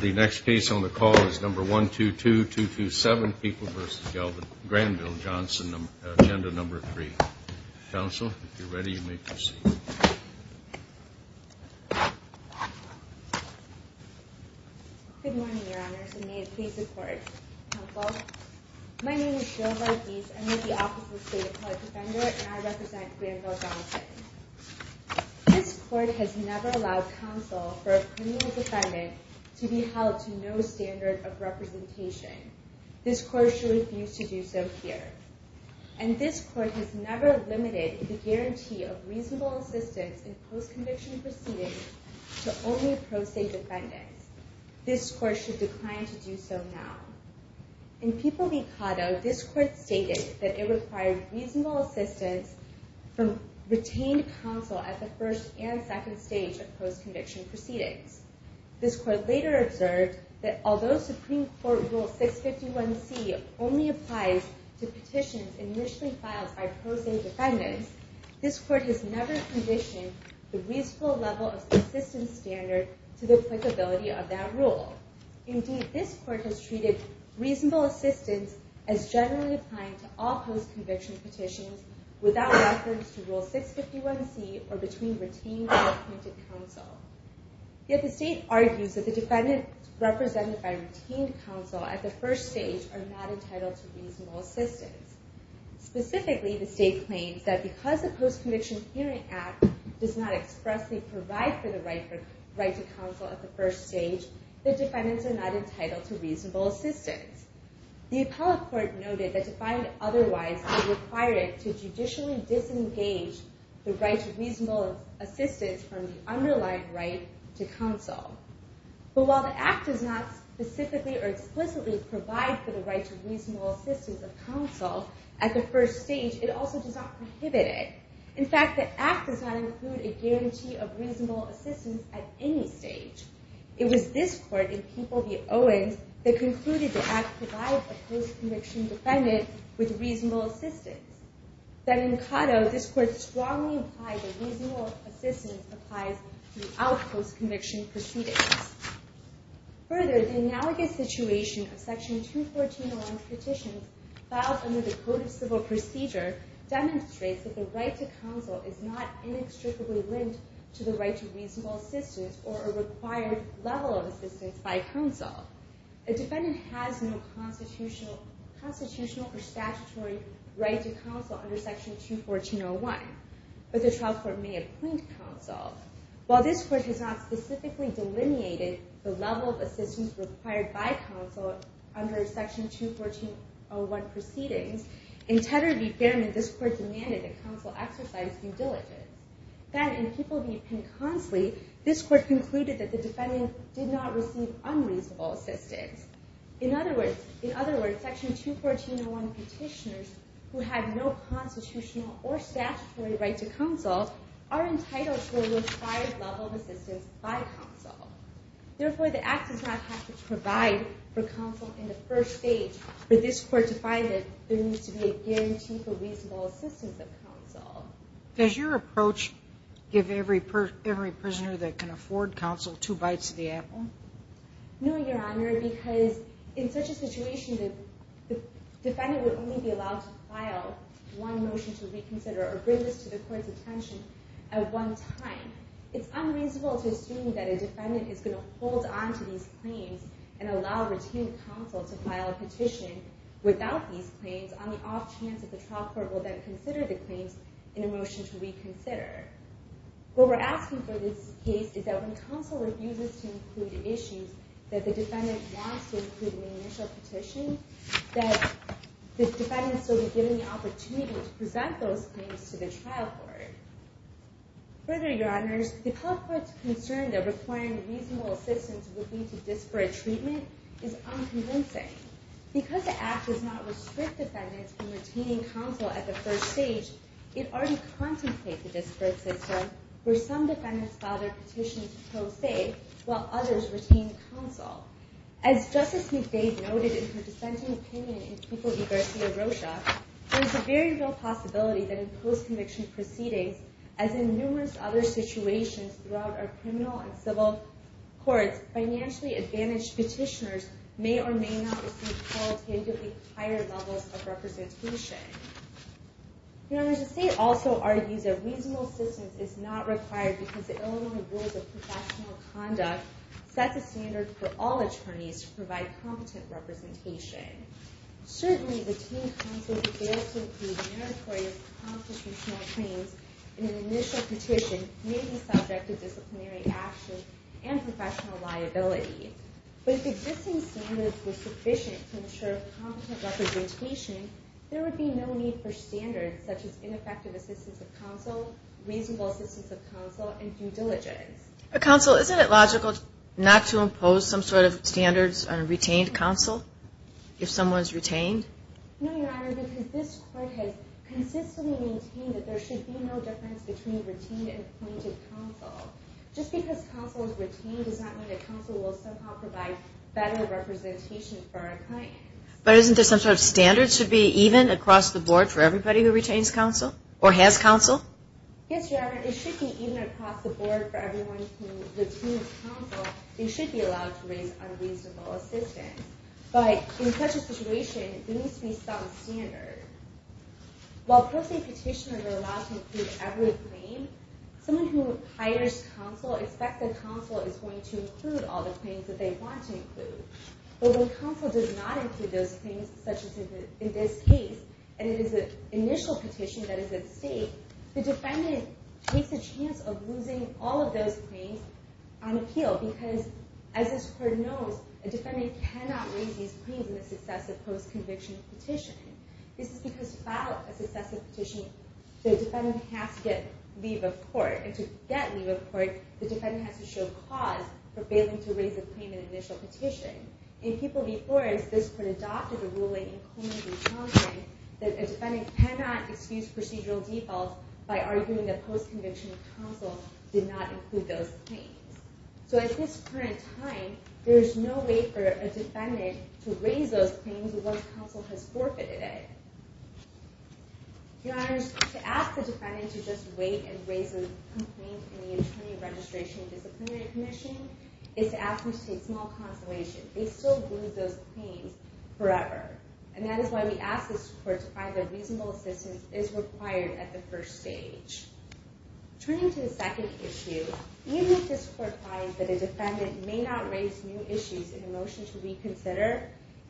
The next case on the call is number 122227, People v. Granville-Johnson, agenda number three. Counsel, if you're ready, you may proceed. Good morning, your honors, and may it please the court. Counsel, my name is Cheryl Varughese. I'm with the Office of the State Appellate Defender, and I represent Granville-Johnson. This court has never allowed counsel for a criminal defendant to be held to no standard of representation. This court should refuse to do so here. And this court has never limited the guarantee of reasonable assistance in post-conviction proceedings to only pro se defendants. This court should decline to do so now. In People v. Cotto, this court stated that it required reasonable assistance from retained counsel at the first and second stage of post-conviction proceedings. This court later observed that although Supreme Court Rule 651C only applies to petitions initially filed by pro se defendants, this court has never conditioned the reasonable level of assistance standard to the applicability of that rule. Indeed, this court has treated reasonable assistance as generally applying to all post-conviction petitions without reference to Rule 651C or between retained and appointed counsel. Yet the state argues that the defendants represented by retained counsel at the first stage are not entitled to reasonable assistance. Specifically, the state claims that because the Post-Conviction Hearing Act does not expressly provide for the right to counsel at the first stage, the defendants are not entitled to reasonable assistance. The appellate court noted that to find otherwise, it required it to judicially disengage the right to reasonable assistance from the underlying right to counsel. But while the act does not specifically or explicitly provide for the right to reasonable assistance of counsel at the first stage, it also does not prohibit it. In fact, the act does not include a guarantee of reasonable assistance at any stage. It was this court in People v. Owens that concluded the act provides a post-conviction defendant with reasonable assistance. Then in Cotto, this court strongly implied that reasonable assistance applies without post-conviction proceedings. Further, the analogous situation of Section 214-1 Petitions filed under the Code of Civil Procedure demonstrates that the right to counsel is not inextricably linked to the right to reasonable assistance or a required level of assistance by counsel. A defendant has no constitutional or statutory right to counsel under Section 214-01, but the trial court may appoint counsel. While this court has not specifically delineated the level of assistance required by counsel under Section 214-01 proceedings, in Tedder v. Fairman, this court demanded that counsel exercise due diligence. Then in People v. Penn-Consley, this court concluded that the defendant did not receive unreasonable assistance. In other words, Section 214-01 petitioners who have no constitutional or statutory right to counsel are entitled for a required level of assistance by counsel. Therefore, the act does not have to provide for counsel in the first stage, but this court defied it. There needs to be a guarantee for reasonable assistance of counsel. Does your approach give every prisoner that can afford counsel two bites of the apple? No, Your Honor, because in such a situation, the defendant would only be allowed to file one motion to reconsider or bring this to the court's attention at one time. It's unreasonable to assume that a defendant is gonna hold on to these claims and allow retained counsel to file a petition without these claims on the off chance that the trial court will then consider the claims in a motion to reconsider. What we're asking for this case is that when counsel refuses to include issues that the defendant wants to include in the initial petition, that the defendants will be given the opportunity to present those claims to the trial court. Further, Your Honors, the public court's concern that requiring reasonable assistance would lead to disparate treatment is unconvincing. Because the act does not restrict defendants from retaining counsel at the first stage, it already contemplates a disparate system where some defendants file their petitions pro se while others retain counsel. As Justice McBade noted in her dissenting opinion in People v. Garcia-Rocha, there's a very real possibility that in post-conviction proceedings, as in numerous other situations throughout our criminal and civil courts, financially advantaged petitioners may or may not receive qualitatively higher levels of representation. Your Honor, the state also argues that reasonable assistance is not required because the Illinois Rules of Professional Conduct set the standard for all attorneys to provide competent representation. Certainly, retaining counsel who fails to include meritorious constitutional claims in an initial petition may be subject to disciplinary action and professional liability. But if existing standards were sufficient to ensure competent representation, there would be no need for standards such as ineffective assistance of counsel, reasonable assistance of counsel, and due diligence. But counsel, isn't it logical not to impose some sort of standards on a retained counsel if someone's retained? No, Your Honor, because this court has consistently maintained that there should be no difference between retained and appointed counsel. Just because counsel is retained does not mean that counsel will somehow provide better representation for our clients. But isn't there some sort of standard should be even across the board for everybody who retains counsel, or has counsel? Yes, Your Honor, it should be even across the board for everyone who retains counsel, they should be allowed to raise unreasonable assistance. But in such a situation, there needs to be some standard. While posting petitioners are allowed to include every claim, someone who hires counsel expects that counsel is going to include But when counsel does not include those claims, such as in this case, and it is an initial petition that is at stake, the defendant takes a chance of losing all of those claims on appeal, because as this court knows, a defendant cannot raise these claims in a successive post-conviction petition. This is because without a successive petition, the defendant has to get leave of court, and to get leave of court, the defendant has to show cause for failing to raise a claim in an initial petition. In people before us, this court adopted a ruling in Coleman v. Johnson, that a defendant cannot excuse procedural defaults by arguing that post-conviction counsel did not include those claims. So at this current time, there is no way for a defendant to raise those claims once counsel has forfeited it. Your Honors, to ask the defendant to just wait and raise a complaint in the Attorney Registration and Disciplinary Commission is to ask them to take small consolation. They still lose those claims forever, and that is why we ask this court to find that reasonable assistance is required at the first stage. Turning to the second issue, even if this court finds that a defendant may not raise new issues in a motion to reconsider,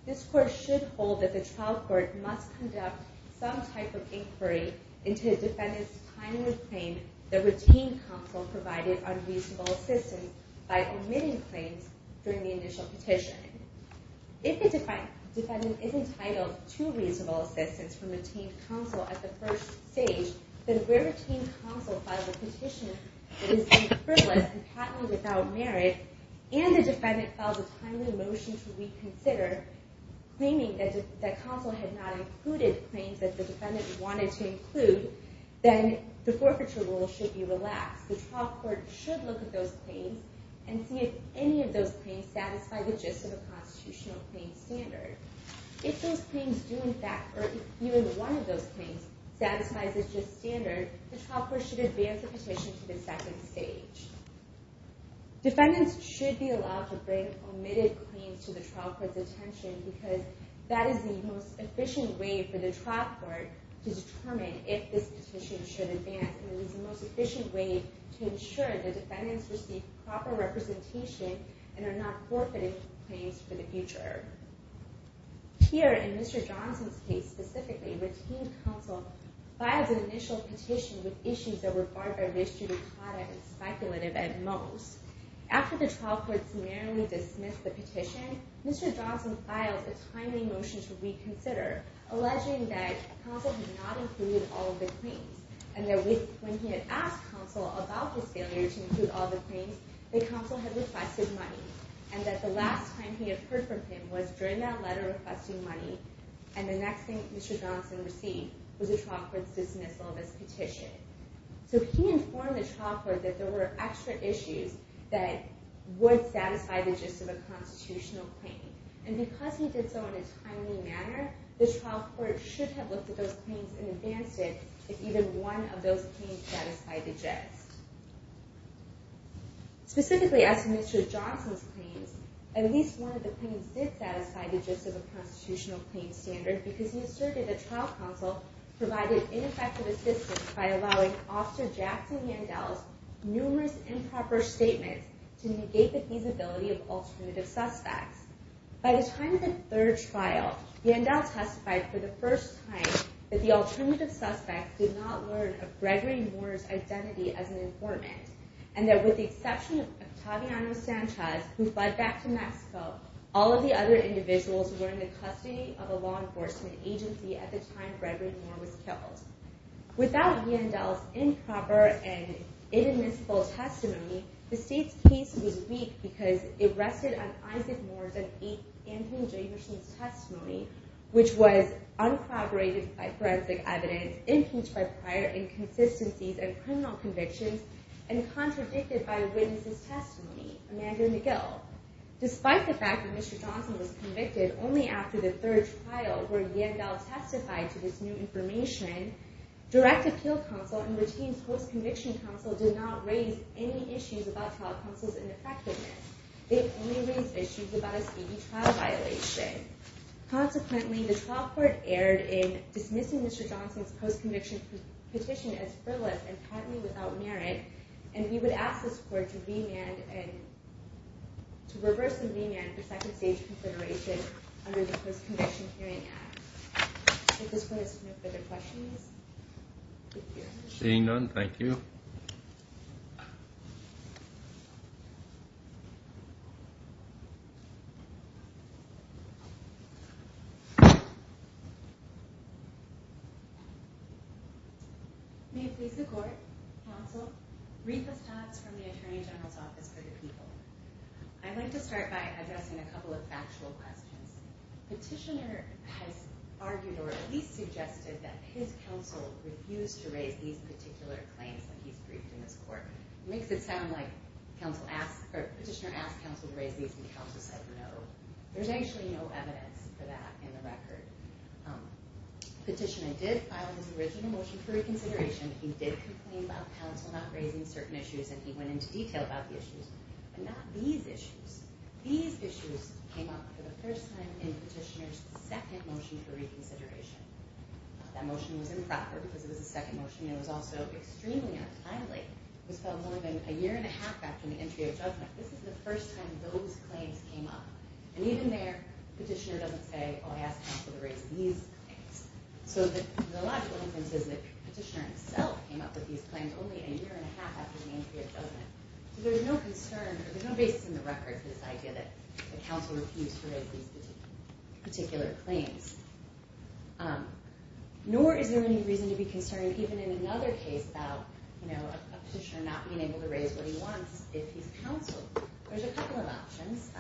this court should hold that the trial court must conduct some type of inquiry into the defendant's timely claim that routine counsel provided unreasonable assistance by omitting claims during the initial petition. If the defendant is entitled to reasonable assistance from retained counsel at the first stage, then if retained counsel filed a petition that is deemed frivolous and patently without merit, and the defendant filed a timely motion to reconsider, claiming that counsel had not included claims that the defendant wanted to include, then the forfeiture rule should be relaxed. The trial court should look at those claims and see if any of those claims satisfy the gist of a constitutional claim standard. If those claims do in fact, or even one of those claims satisfies the gist standard, the trial court should advance the petition to the second stage. Defendants should be allowed to bring omitted claims to the trial court's attention because that is the most efficient way for the trial court to determine if this petition should advance, and it is the most efficient way to ensure the defendants receive proper representation and are not forfeiting claims for the future. Here in Mr. Johnson's case specifically, retained counsel filed an initial petition with issues that were barbed by the judicata and speculative at most. After the trial court summarily dismissed the petition, Mr. Johnson filed a timely motion to reconsider, alleging that counsel had not included all of the claims, and that when he had asked counsel about his failure to include all the claims, that counsel had requested money, and that the last time he had heard from him was during that letter requesting money, and the next thing Mr. Johnson received was the trial court's dismissal of his petition. So he informed the trial court that there were extra issues that would satisfy the gist of a constitutional claim, the trial court should have looked at those claims and advanced it if even one of those claims satisfied the gist. Specifically, as to Mr. Johnson's claims, at least one of the claims did satisfy the gist of a constitutional claim standard because he asserted that trial counsel provided ineffective assistance by allowing Officer Jackson Yandel's numerous improper statements to negate the feasibility of alternative suspects. By the time of the third trial, Yandel testified for the first time that the alternative suspects did not learn of Gregory Moore's identity as an informant, and that with the exception of Octaviano Sanchez, who fled back to Mexico, all of the other individuals were in the custody of a law enforcement agency at the time Gregory Moore was killed. Without Yandel's improper and inadmissible testimony, because it rested on Isaac Moore's and Anthony Jacobson's testimony, which was uncorroborated by forensic evidence, impeached by prior inconsistencies and criminal convictions, and contradicted by a witness's testimony, Amanda McGill, despite the fact that Mr. Johnson was convicted only after the third trial where Yandel testified to this new information, direct appeal counsel and routine post-conviction counsel did not raise any issues about trial counsel's ineffectiveness. They only raised issues about a state trial violation. Consequently, the trial court erred in dismissing Mr. Johnson's post-conviction petition as frivolous and patently without merit, and we would ask this court to reverse and remand the second stage consideration under the Post-Conviction Hearing Act. If this court has no further questions, thank you. Seeing none, thank you. Thank you. May it please the court, counsel, Reetha Stotts from the Attorney General's Office for the People. I'd like to start by addressing a couple of factual questions. Petitioner has argued, or at least suggested, that his counsel refused to raise these particular claims when he's briefed in this court. Makes it sound like Petitioner asked counsel to raise these and counsel said no. There's actually no evidence for that in the record. Petitioner did file his original motion for reconsideration. He did complain about counsel not raising certain issues and he went into detail about the issues, but not these issues. These issues came up for the first time in Petitioner's second motion for reconsideration. That motion was improper because it was a second motion and it was also extremely untimely. It was filed more than a year and a half after the entry of judgment. This is the first time those claims came up. And even there, Petitioner doesn't say, oh, I asked counsel to raise these claims. So the logical inference is that Petitioner himself came up with these claims only a year and a half after the entry of judgment. So there's no concern, there's no basis in the record for this idea that counsel refused to raise these particular claims. Nor is there any reason to be concerned even in another case about a petitioner not being able to raise what he wants if he's counseled. There's a couple of options.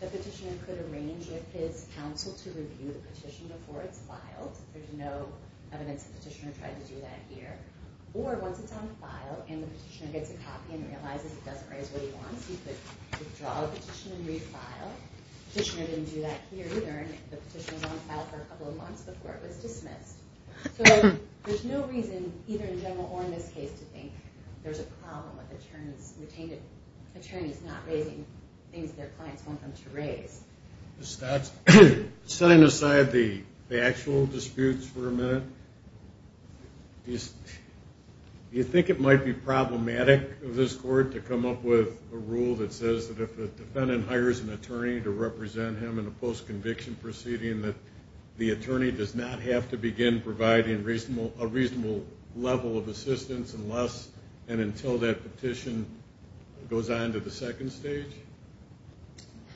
The petitioner could arrange with his counsel to review the petition before it's filed. There's no evidence that Petitioner tried to do that here. Or once it's on file and the petitioner gets a copy and realizes he doesn't raise what he wants, he could withdraw the petition and refile. Petitioner didn't do that here either and the petition was on file for a couple of months before it was dismissed. So there's no reason, either in general or in this case, to think there's a problem with attorneys not raising things their clients want them to raise. Setting aside the actual disputes for a minute, you think it might be problematic of this court to come up with a rule that says that if a defendant hires an attorney to represent him in a post-conviction proceeding that the attorney does not have to begin providing a reasonable level of assistance and until that petition goes on to the second stage?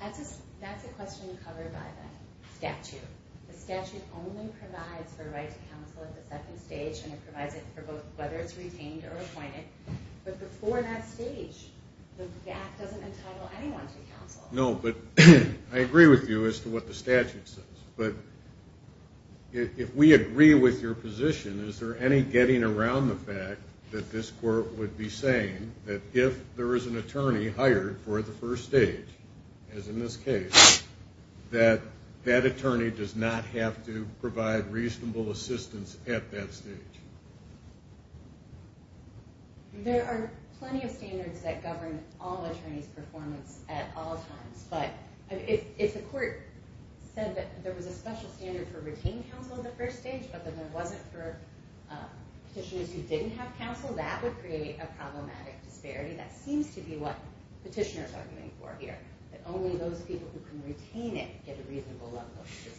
That's a question covered by the statute. The statute only provides for a right to counsel at the second stage and it provides it for whether it's retained or appointed. But before that stage, the act doesn't entitle anyone to counsel. No, but I agree with you as to what the statute says. But if we agree with your position, is there any getting around the fact that this court would be saying that if there is an attorney hired for the first stage, as in this case, that that attorney does not have to provide reasonable assistance at that stage? There are plenty of standards that govern all attorneys' performance at all times. But if the court said that there was a special standard for retained counsel at the first stage but that there wasn't for petitioners who didn't have counsel, that would create a problematic disparity. That seems to be what petitioners are arguing for here, that only those people who can retain it get a reasonable level of assistance.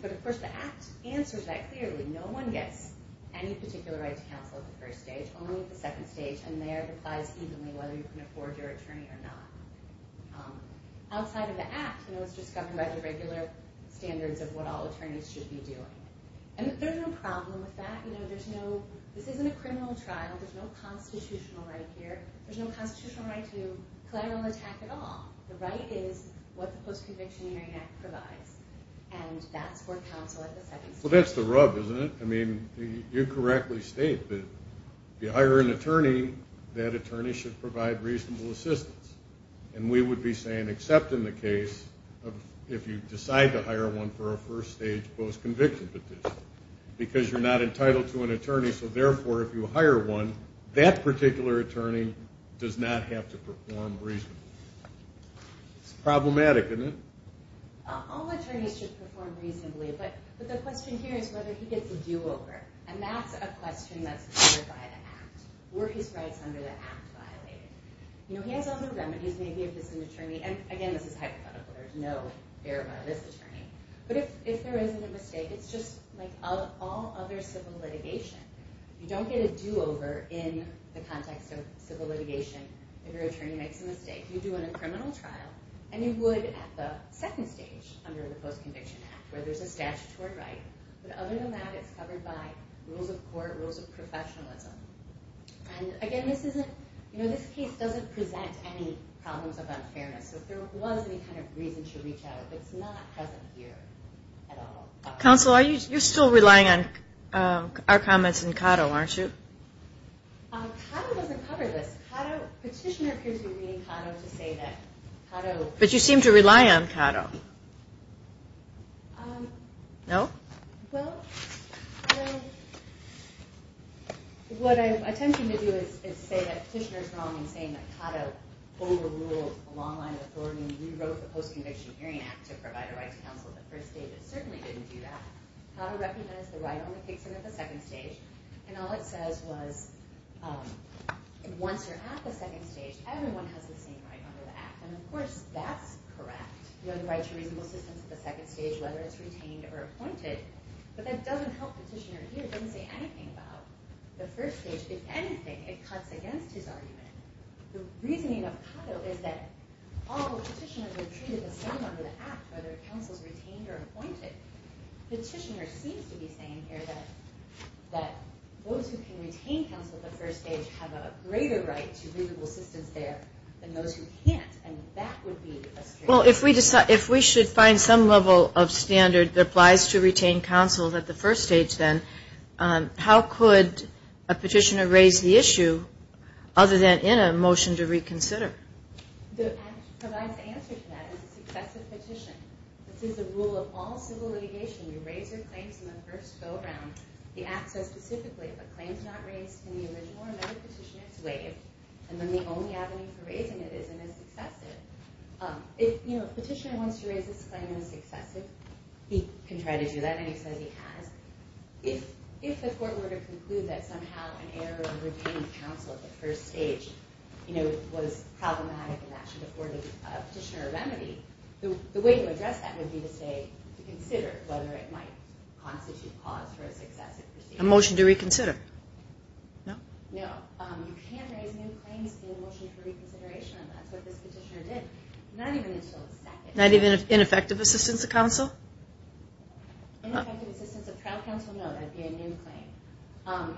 But of course, the act answers that clearly. No one gets any particular right to counsel at the first stage, only at the second stage, and there it applies evenly whether you can afford your attorney or not. Outside of the act, it's just governed by the regular standards of what all attorneys should be doing. There's no problem with that. This isn't a criminal trial. There's no constitutional right here. There's no constitutional right to collateral attack at all. The right is what the Post-Convictionary Act provides, and that's for counsel at the second stage. Well, that's the rub, isn't it? I mean, you correctly state that if you hire an attorney, that attorney should provide reasonable assistance. And we would be saying, except in the case of if you decide to hire one for a first-stage post-conviction petition, because you're not entitled to an attorney, so therefore, if you hire one, that particular attorney does not have to perform reasonably. It's problematic, isn't it? All attorneys should perform reasonably, but the question here is whether he gets a do-over, and that's a question that's covered by the act. Were his rights under the act violated? You know, he has other remedies, maybe if it's an attorney, and again, this is hypothetical. There's no fair amount of this attorney, but if there isn't a mistake, it's just like all other civil litigation. You don't get a do-over in the context of civil litigation if your attorney makes a mistake. You do it in a criminal trial, and you would at the second stage under the Post-Conviction Act, where there's a statutory right, but other than that, it's covered by rules of court, rules of professionalism, and again, this isn't, you know, this case doesn't present any problems of unfairness, so if there was any kind of reason to reach out, it's not present here at all. Counsel, you're still relying on our comments in Caddo, aren't you? Caddo doesn't cover this. Petitioner appears to be reading Caddo to say that Caddo. But you seem to rely on Caddo. No? Well, what I'm attempting to do is say that Petitioner's wrong in saying that Caddo overruled a long-line authority when he rewrote the Post-Conviction Hearing Act to provide a right to counsel at the first stage. It certainly didn't do that. Caddo recognized the right only kicks in at the second stage, and all it says was once you're at the second stage, everyone has the same right under the Act, and of course, that's correct. You have the right to reasonable assistance at the second stage, whether it's retained or appointed, but that doesn't help Petitioner here. It doesn't say anything about the first stage. If anything, it cuts against his argument. The reasoning of Caddo is that all Petitioners are treated the same under the Act, whether counsel's retained or appointed. Petitioner seems to be saying here that those who can retain counsel at the first stage have a greater right to reasonable assistance there than those who can't, and that would be a strange. Well, if we should find some level of standard that applies to retain counsel at the first stage, then, how could a Petitioner raise the issue other than in a motion to reconsider? The Act provides the answer to that as a successive petition. This is the rule of all civil litigation. You raise your claims in the first go-around. The Act says specifically, if a claim's not raised in the original or another petition, it's waived, and then the only avenue for raising it is in a successive. If Petitioner wants to raise this claim in a successive, he can try to do that, and he says he has. If the court were to conclude that somehow an error in retaining counsel at the first stage was problematic and that should afford a Petitioner a remedy, the way to address that would be to say, to consider whether it might constitute cause for a successive petition. A motion to reconsider? No? No. You can't raise new claims in a motion for reconsideration, and that's what this Petitioner did. Not even until the second. Not even in effective assistance of counsel? In effective assistance of trial counsel? No, that'd be a new claim.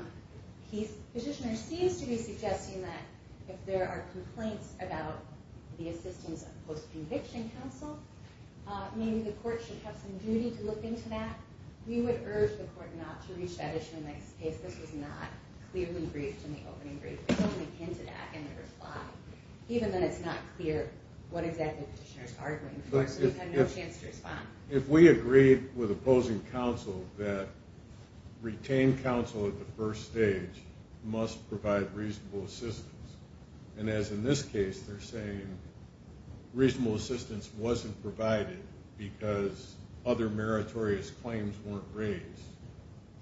Petitioner seems to be suggesting that if there are complaints about the assistance of post-conviction counsel, maybe the court should have some duty to look into that. We would urge the court not to reach that issue in the next case. This was not clearly briefed in the opening brief. We don't want to hint at that in the reply, even when it's not clear what exactly Petitioner's arguing for, so we've had no chance to respond. If we agreed with opposing counsel that retained counsel at the first stage must provide reasonable assistance, and as in this case, they're saying reasonable assistance wasn't provided because other meritorious claims weren't raised,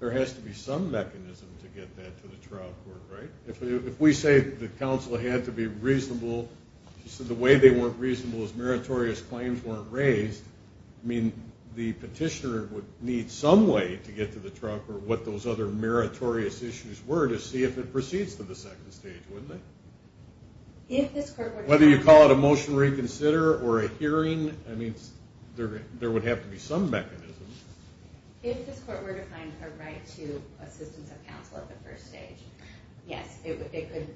there has to be some mechanism to get that to the trial court, right? If we say the counsel had to be reasonable, she said the way they weren't reasonable is meritorious claims weren't raised, I mean, the Petitioner would need some way to get to the trial court, what those other meritorious issues were to see if it proceeds to the second stage, wouldn't it? Whether you call it a motion reconsider or a hearing, I mean, there would have to be some mechanism. If this court were to find a right to assistance of counsel at the first stage, yes, it could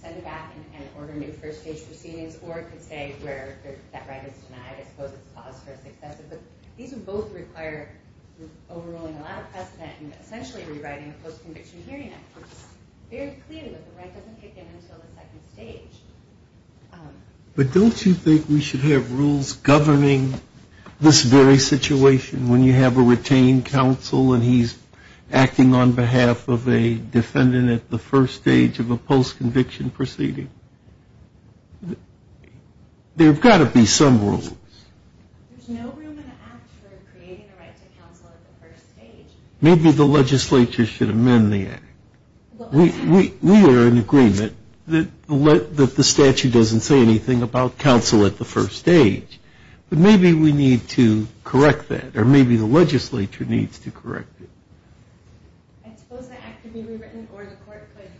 send it back and order new first stage proceedings, or it could say where that right is denied, I suppose it's a cause for a successive, but these would both require overruling a lot of precedent and essentially rewriting the post-conviction hearing act which is very clear that the right doesn't kick in until the second stage. But don't you think we should have rules governing this very situation when you have a retained counsel and he's acting on behalf of a defendant at the first stage of a post-conviction proceeding? I mean, there've got to be some rules. There's no room in the act for creating a right to counsel at the first stage. Maybe the legislature should amend the act. We are in agreement that the statute doesn't say anything about counsel at the first stage, but maybe we need to correct that, or maybe the legislature needs to correct it. I suppose the act could be rewritten or the court could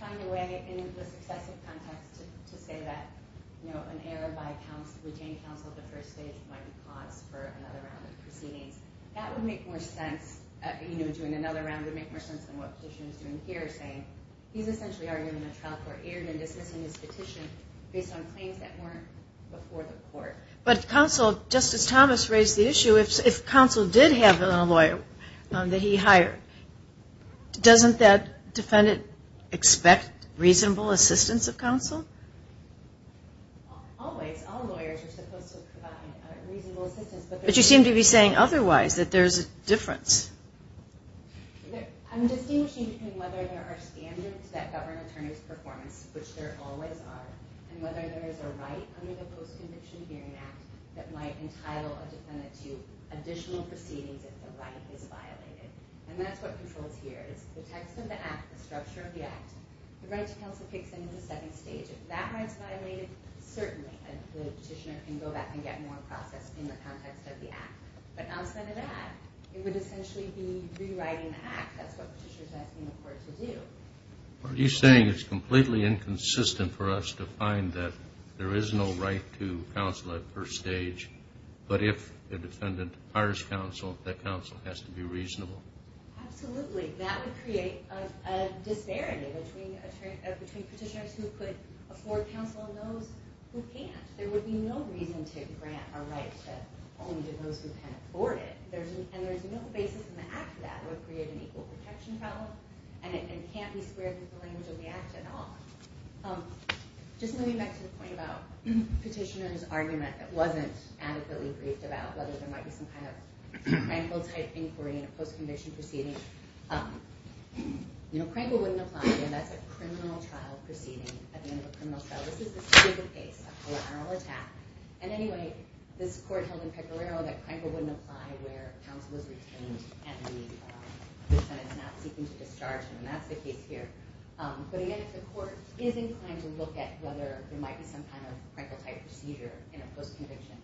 find a way in the successive context to say that an error by a retained counsel at the first stage might be cause for another round of proceedings. That would make more sense, doing another round would make more sense than what Petitioner's doing here, saying he's essentially arguing that trial court erred in dismissing his petition based on claims that weren't before the court. But counsel, Justice Thomas raised the issue, if counsel did have a lawyer that he hired, doesn't that defendant expect reasonable assistance of counsel? Always, all lawyers are supposed to provide reasonable assistance. But you seem to be saying otherwise, that there's a difference. I'm distinguishing between whether there are standards that govern attorney's performance, which there always are, and whether there is a right under the Post-Conviction Hearing Act that might entitle a defendant to additional proceedings if the right is violated. And that's what controls here, it's the text of the act, the structure of the act. The right to counsel kicks in at the second stage, if that right's violated, certainly the Petitioner can go back and get more processed in the context of the act. But outside of that, it would essentially be rewriting the act, that's what Petitioner's asking the court to do. Are you saying it's completely inconsistent for us to find that there is no right to counsel at first stage, but if the defendant hires counsel, that counsel has to be reasonable? Absolutely, that would create a disparity between Petitioners who could afford counsel and those who can't. There would be no reason to grant a right to only to those who can afford it. And there's no basis in the act that would create an equal protection problem, and it can't be squared with the language of the act at all. Just moving back to the point about Petitioner's argument that wasn't adequately briefed about whether there might be some kind of Crankle-type inquiry in a post-conviction proceeding. Crankle wouldn't apply if that's a criminal trial proceeding at the end of a criminal trial. This is the state of the case, a collateral attack. And anyway, this court held in Pecoraro that Crankle wouldn't apply where counsel was retained and the defendant's not seeking to discharge him, and that's the case here. But again, if the court is inclined to look at whether there might be some kind of Crankle-type procedure in a post-conviction,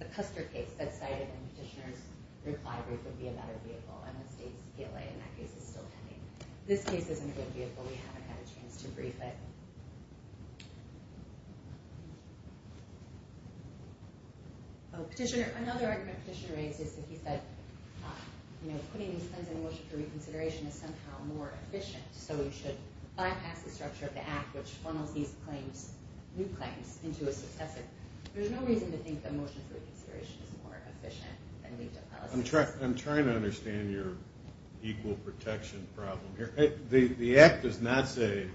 the Custer case that's cited in Petitioner's reply would be a better vehicle, and the state's PLA in that case is still pending. This case isn't a good vehicle. We haven't had a chance to brief it. Oh, Petitioner, another argument Petitioner raised is that he said, you know, putting these things in worship for reconsideration is somehow more efficient, so we should bypass the structure of the act which funnels these claims, new claims, into a successive. There's no reason to think that motion for reconsideration is more efficient than legal policy. I'm trying to understand your equal protection problem here. The act does not say,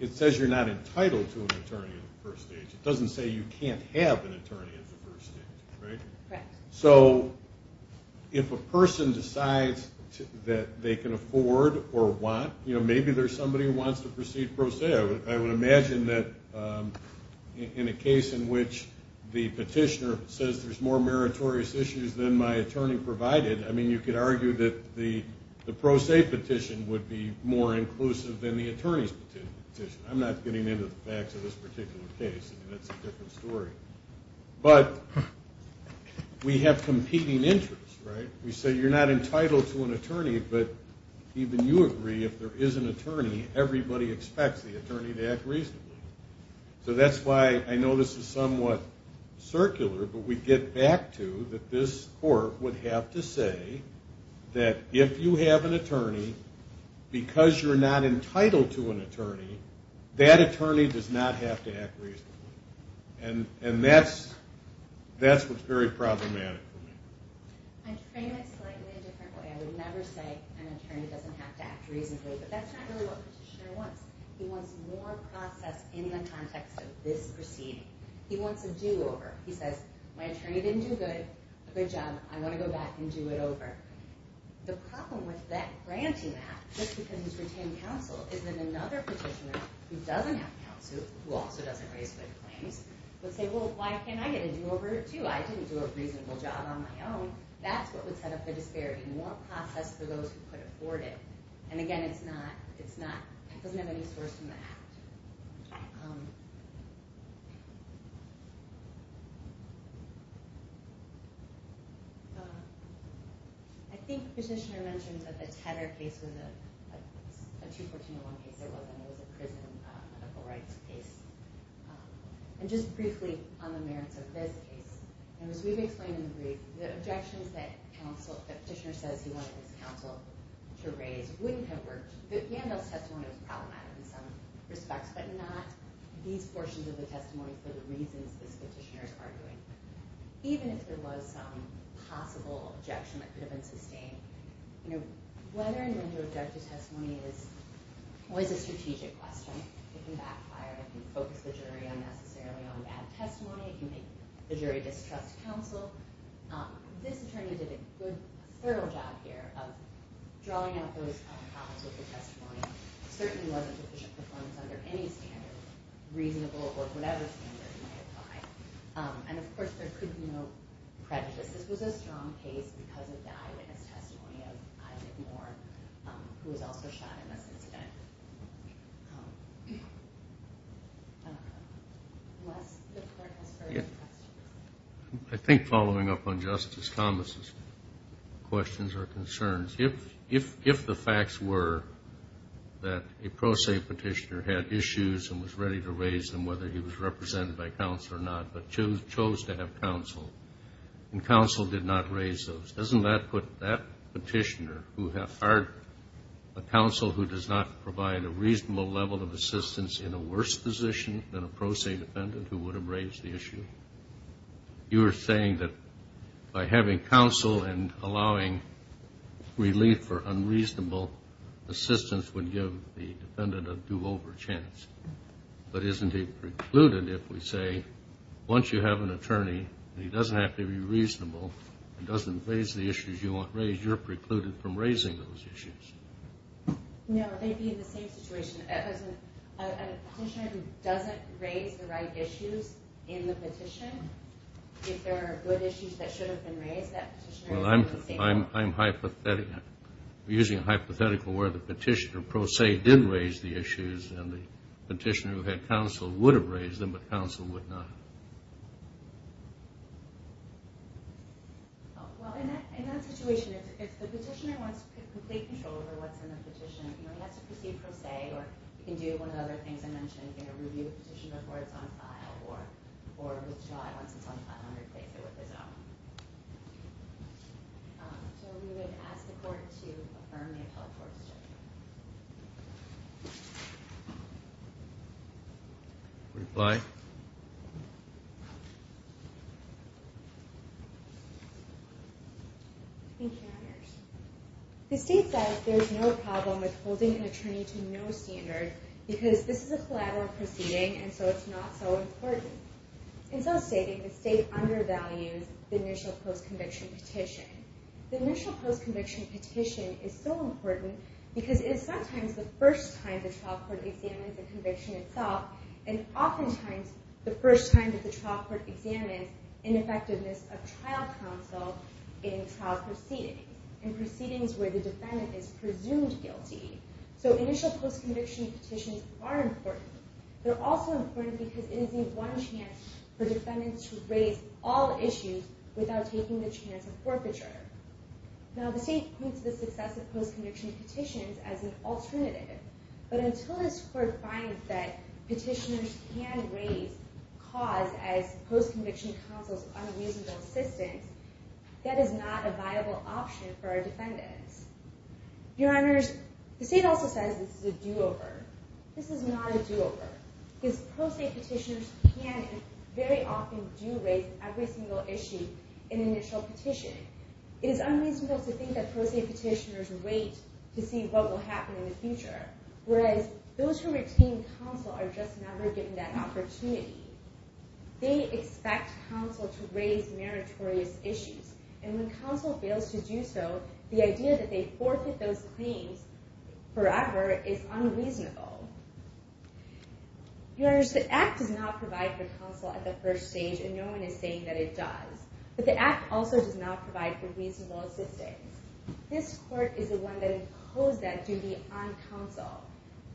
it says you're not entitled to an attorney at the first stage. It doesn't say you can't have an attorney at the first stage, right? Correct. So if a person decides that they can afford or want, you know, maybe there's somebody who wants to proceed pro se. I would imagine that in a case in which the petitioner says there's more meritorious issues than my attorney provided, I mean, you could argue that the pro se petition would be more inclusive than the attorney's petition. I'm not getting into the facts of this particular case. I mean, that's a different story. But we have competing interests, right? but even you agree if there is an attorney, everybody expects the attorney to act reasonably. So that's why I know this is somewhat circular, but we get back to that this court would have to say that if you have an attorney, because you're not entitled to an attorney, that attorney does not have to act reasonably. And that's what's very problematic for me. I'd frame it slightly a different way. I would never say an attorney doesn't have to act reasonably but that's not really what the petitioner wants. He wants more process in the context of this proceeding. He wants a do over. He says, my attorney didn't do a good job. I want to go back and do it over. The problem with that granting that just because he's retained counsel is that another petitioner who doesn't have counsel who also doesn't raise good claims, would say, well, why can't I get a do over too? I didn't do a reasonable job on my own. That's what would set up the disparity, more process for those who could afford it. And again, it's not, it doesn't have any source from that. I think the petitioner mentioned that the Tedder case was a 214-1 case. It wasn't, it was a prison medical rights case. And just briefly on the merits of this case, and as we've explained in the brief, the objections that counsel, the petitioner says he wanted his counsel to raise wouldn't have worked. The Vandals' testimony was problematic in some respects, but not these portions of the testimony for the reasons this petitioner is arguing. Even if there was some possible objection that could have been sustained, you know, whether or not you object to testimony is always a strategic question. It can backfire. It can focus the jury unnecessarily on bad testimony. It can make the jury distrust counsel. This attorney did a good, thorough job here of drawing out those problems with the testimony. Certainly wasn't sufficient performance under any standard, reasonable, or whatever standard you might apply. And of course, there could be no prejudice. This was a strong case because of the eyewitness testimony of Isaac Moore, who was also shot in this incident. Unless the court has further questions. I think following up on Justice Thomas's questions or concerns, if the facts were that a pro se petitioner had issues and was ready to raise them, whether he was represented by counsel or not, but chose to have counsel, and counsel did not raise those, doesn't that put that petitioner, who had hired a counsel who does not provide a reasonable level of assistance in a worse position than a pro se defendant who would have raised the issue? You were saying that by having counsel and allowing relief for unreasonable assistance would give the defendant a do-over chance. But isn't it precluded if we say, once you have an attorney, and he doesn't have to be reasonable, and doesn't raise the issues you want raised, you're precluded from raising those issues. No, they'd be in the same situation. If a petitioner doesn't raise the right issues in the petition, if there are good issues that should have been raised, that petitioner is in the same situation. I'm using a hypothetical where the petitioner pro se did raise the issues, and the petitioner who had counsel would have raised them, but counsel would not. Well, in that situation, if the petitioner wants complete control over what's in the petition, he has to proceed pro se, or he can do one of the other things I mentioned, he can review the petition before it's on file, or withdraw it once it's on file, and replace it with his own. So we would ask the court to affirm the appellate court's judgment. Reply. Thank you, Your Honors. The state says there's no problem with holding an attorney to no standard, because this is a collateral proceeding, and so it's not so important. In so stating, the state undervalues the initial post-conviction petition. The initial post-conviction petition is so important, because it is sometimes the first time the trial court examines the conviction itself, and oftentimes the first time that the trial court examines ineffectiveness of trial counsel in trial proceedings, in proceedings where the defendant is presumed guilty. So initial post-conviction petitions are important. They're also important because it is the one chance for defendants to raise all issues without taking the chance of forfeiture. Now the state points to the success of post-conviction petitions as an alternative, but until this court finds that petitioners can raise cause as post-conviction counsel's unreasonable assistance, that is not a viable option for our defendants. Your Honors, the state also says this is a do-over. This is not a do-over, because pro se petitioners can and very often do raise every single issue in initial petitioning. It is unreasonable to think that pro se petitioners wait to see what will happen in the future, whereas those who retain counsel are just never given that opportunity. They expect counsel to raise meritorious issues, and when counsel fails to do so, the idea that they forfeit those claims forever is unreasonable. Your Honors, the act does not provide for counsel at the first stage, and no one is saying that it does, but the act also does not provide for reasonable assistance. This court is the one that imposed that duty on counsel,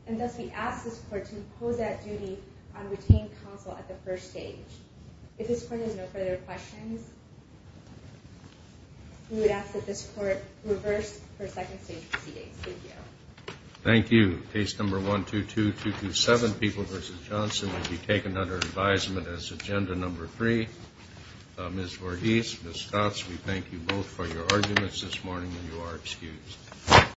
and thus we ask this court to impose that duty on retained counsel at the first stage. If this court has no further questions, we would ask that this court reverse for second stage proceedings, thank you. Thank you, case number 122227, People v. Johnson will be taken under advisement as agenda number three. Ms. Vordis, Ms. Scotts, we thank you both for your arguments this morning, and you are excused.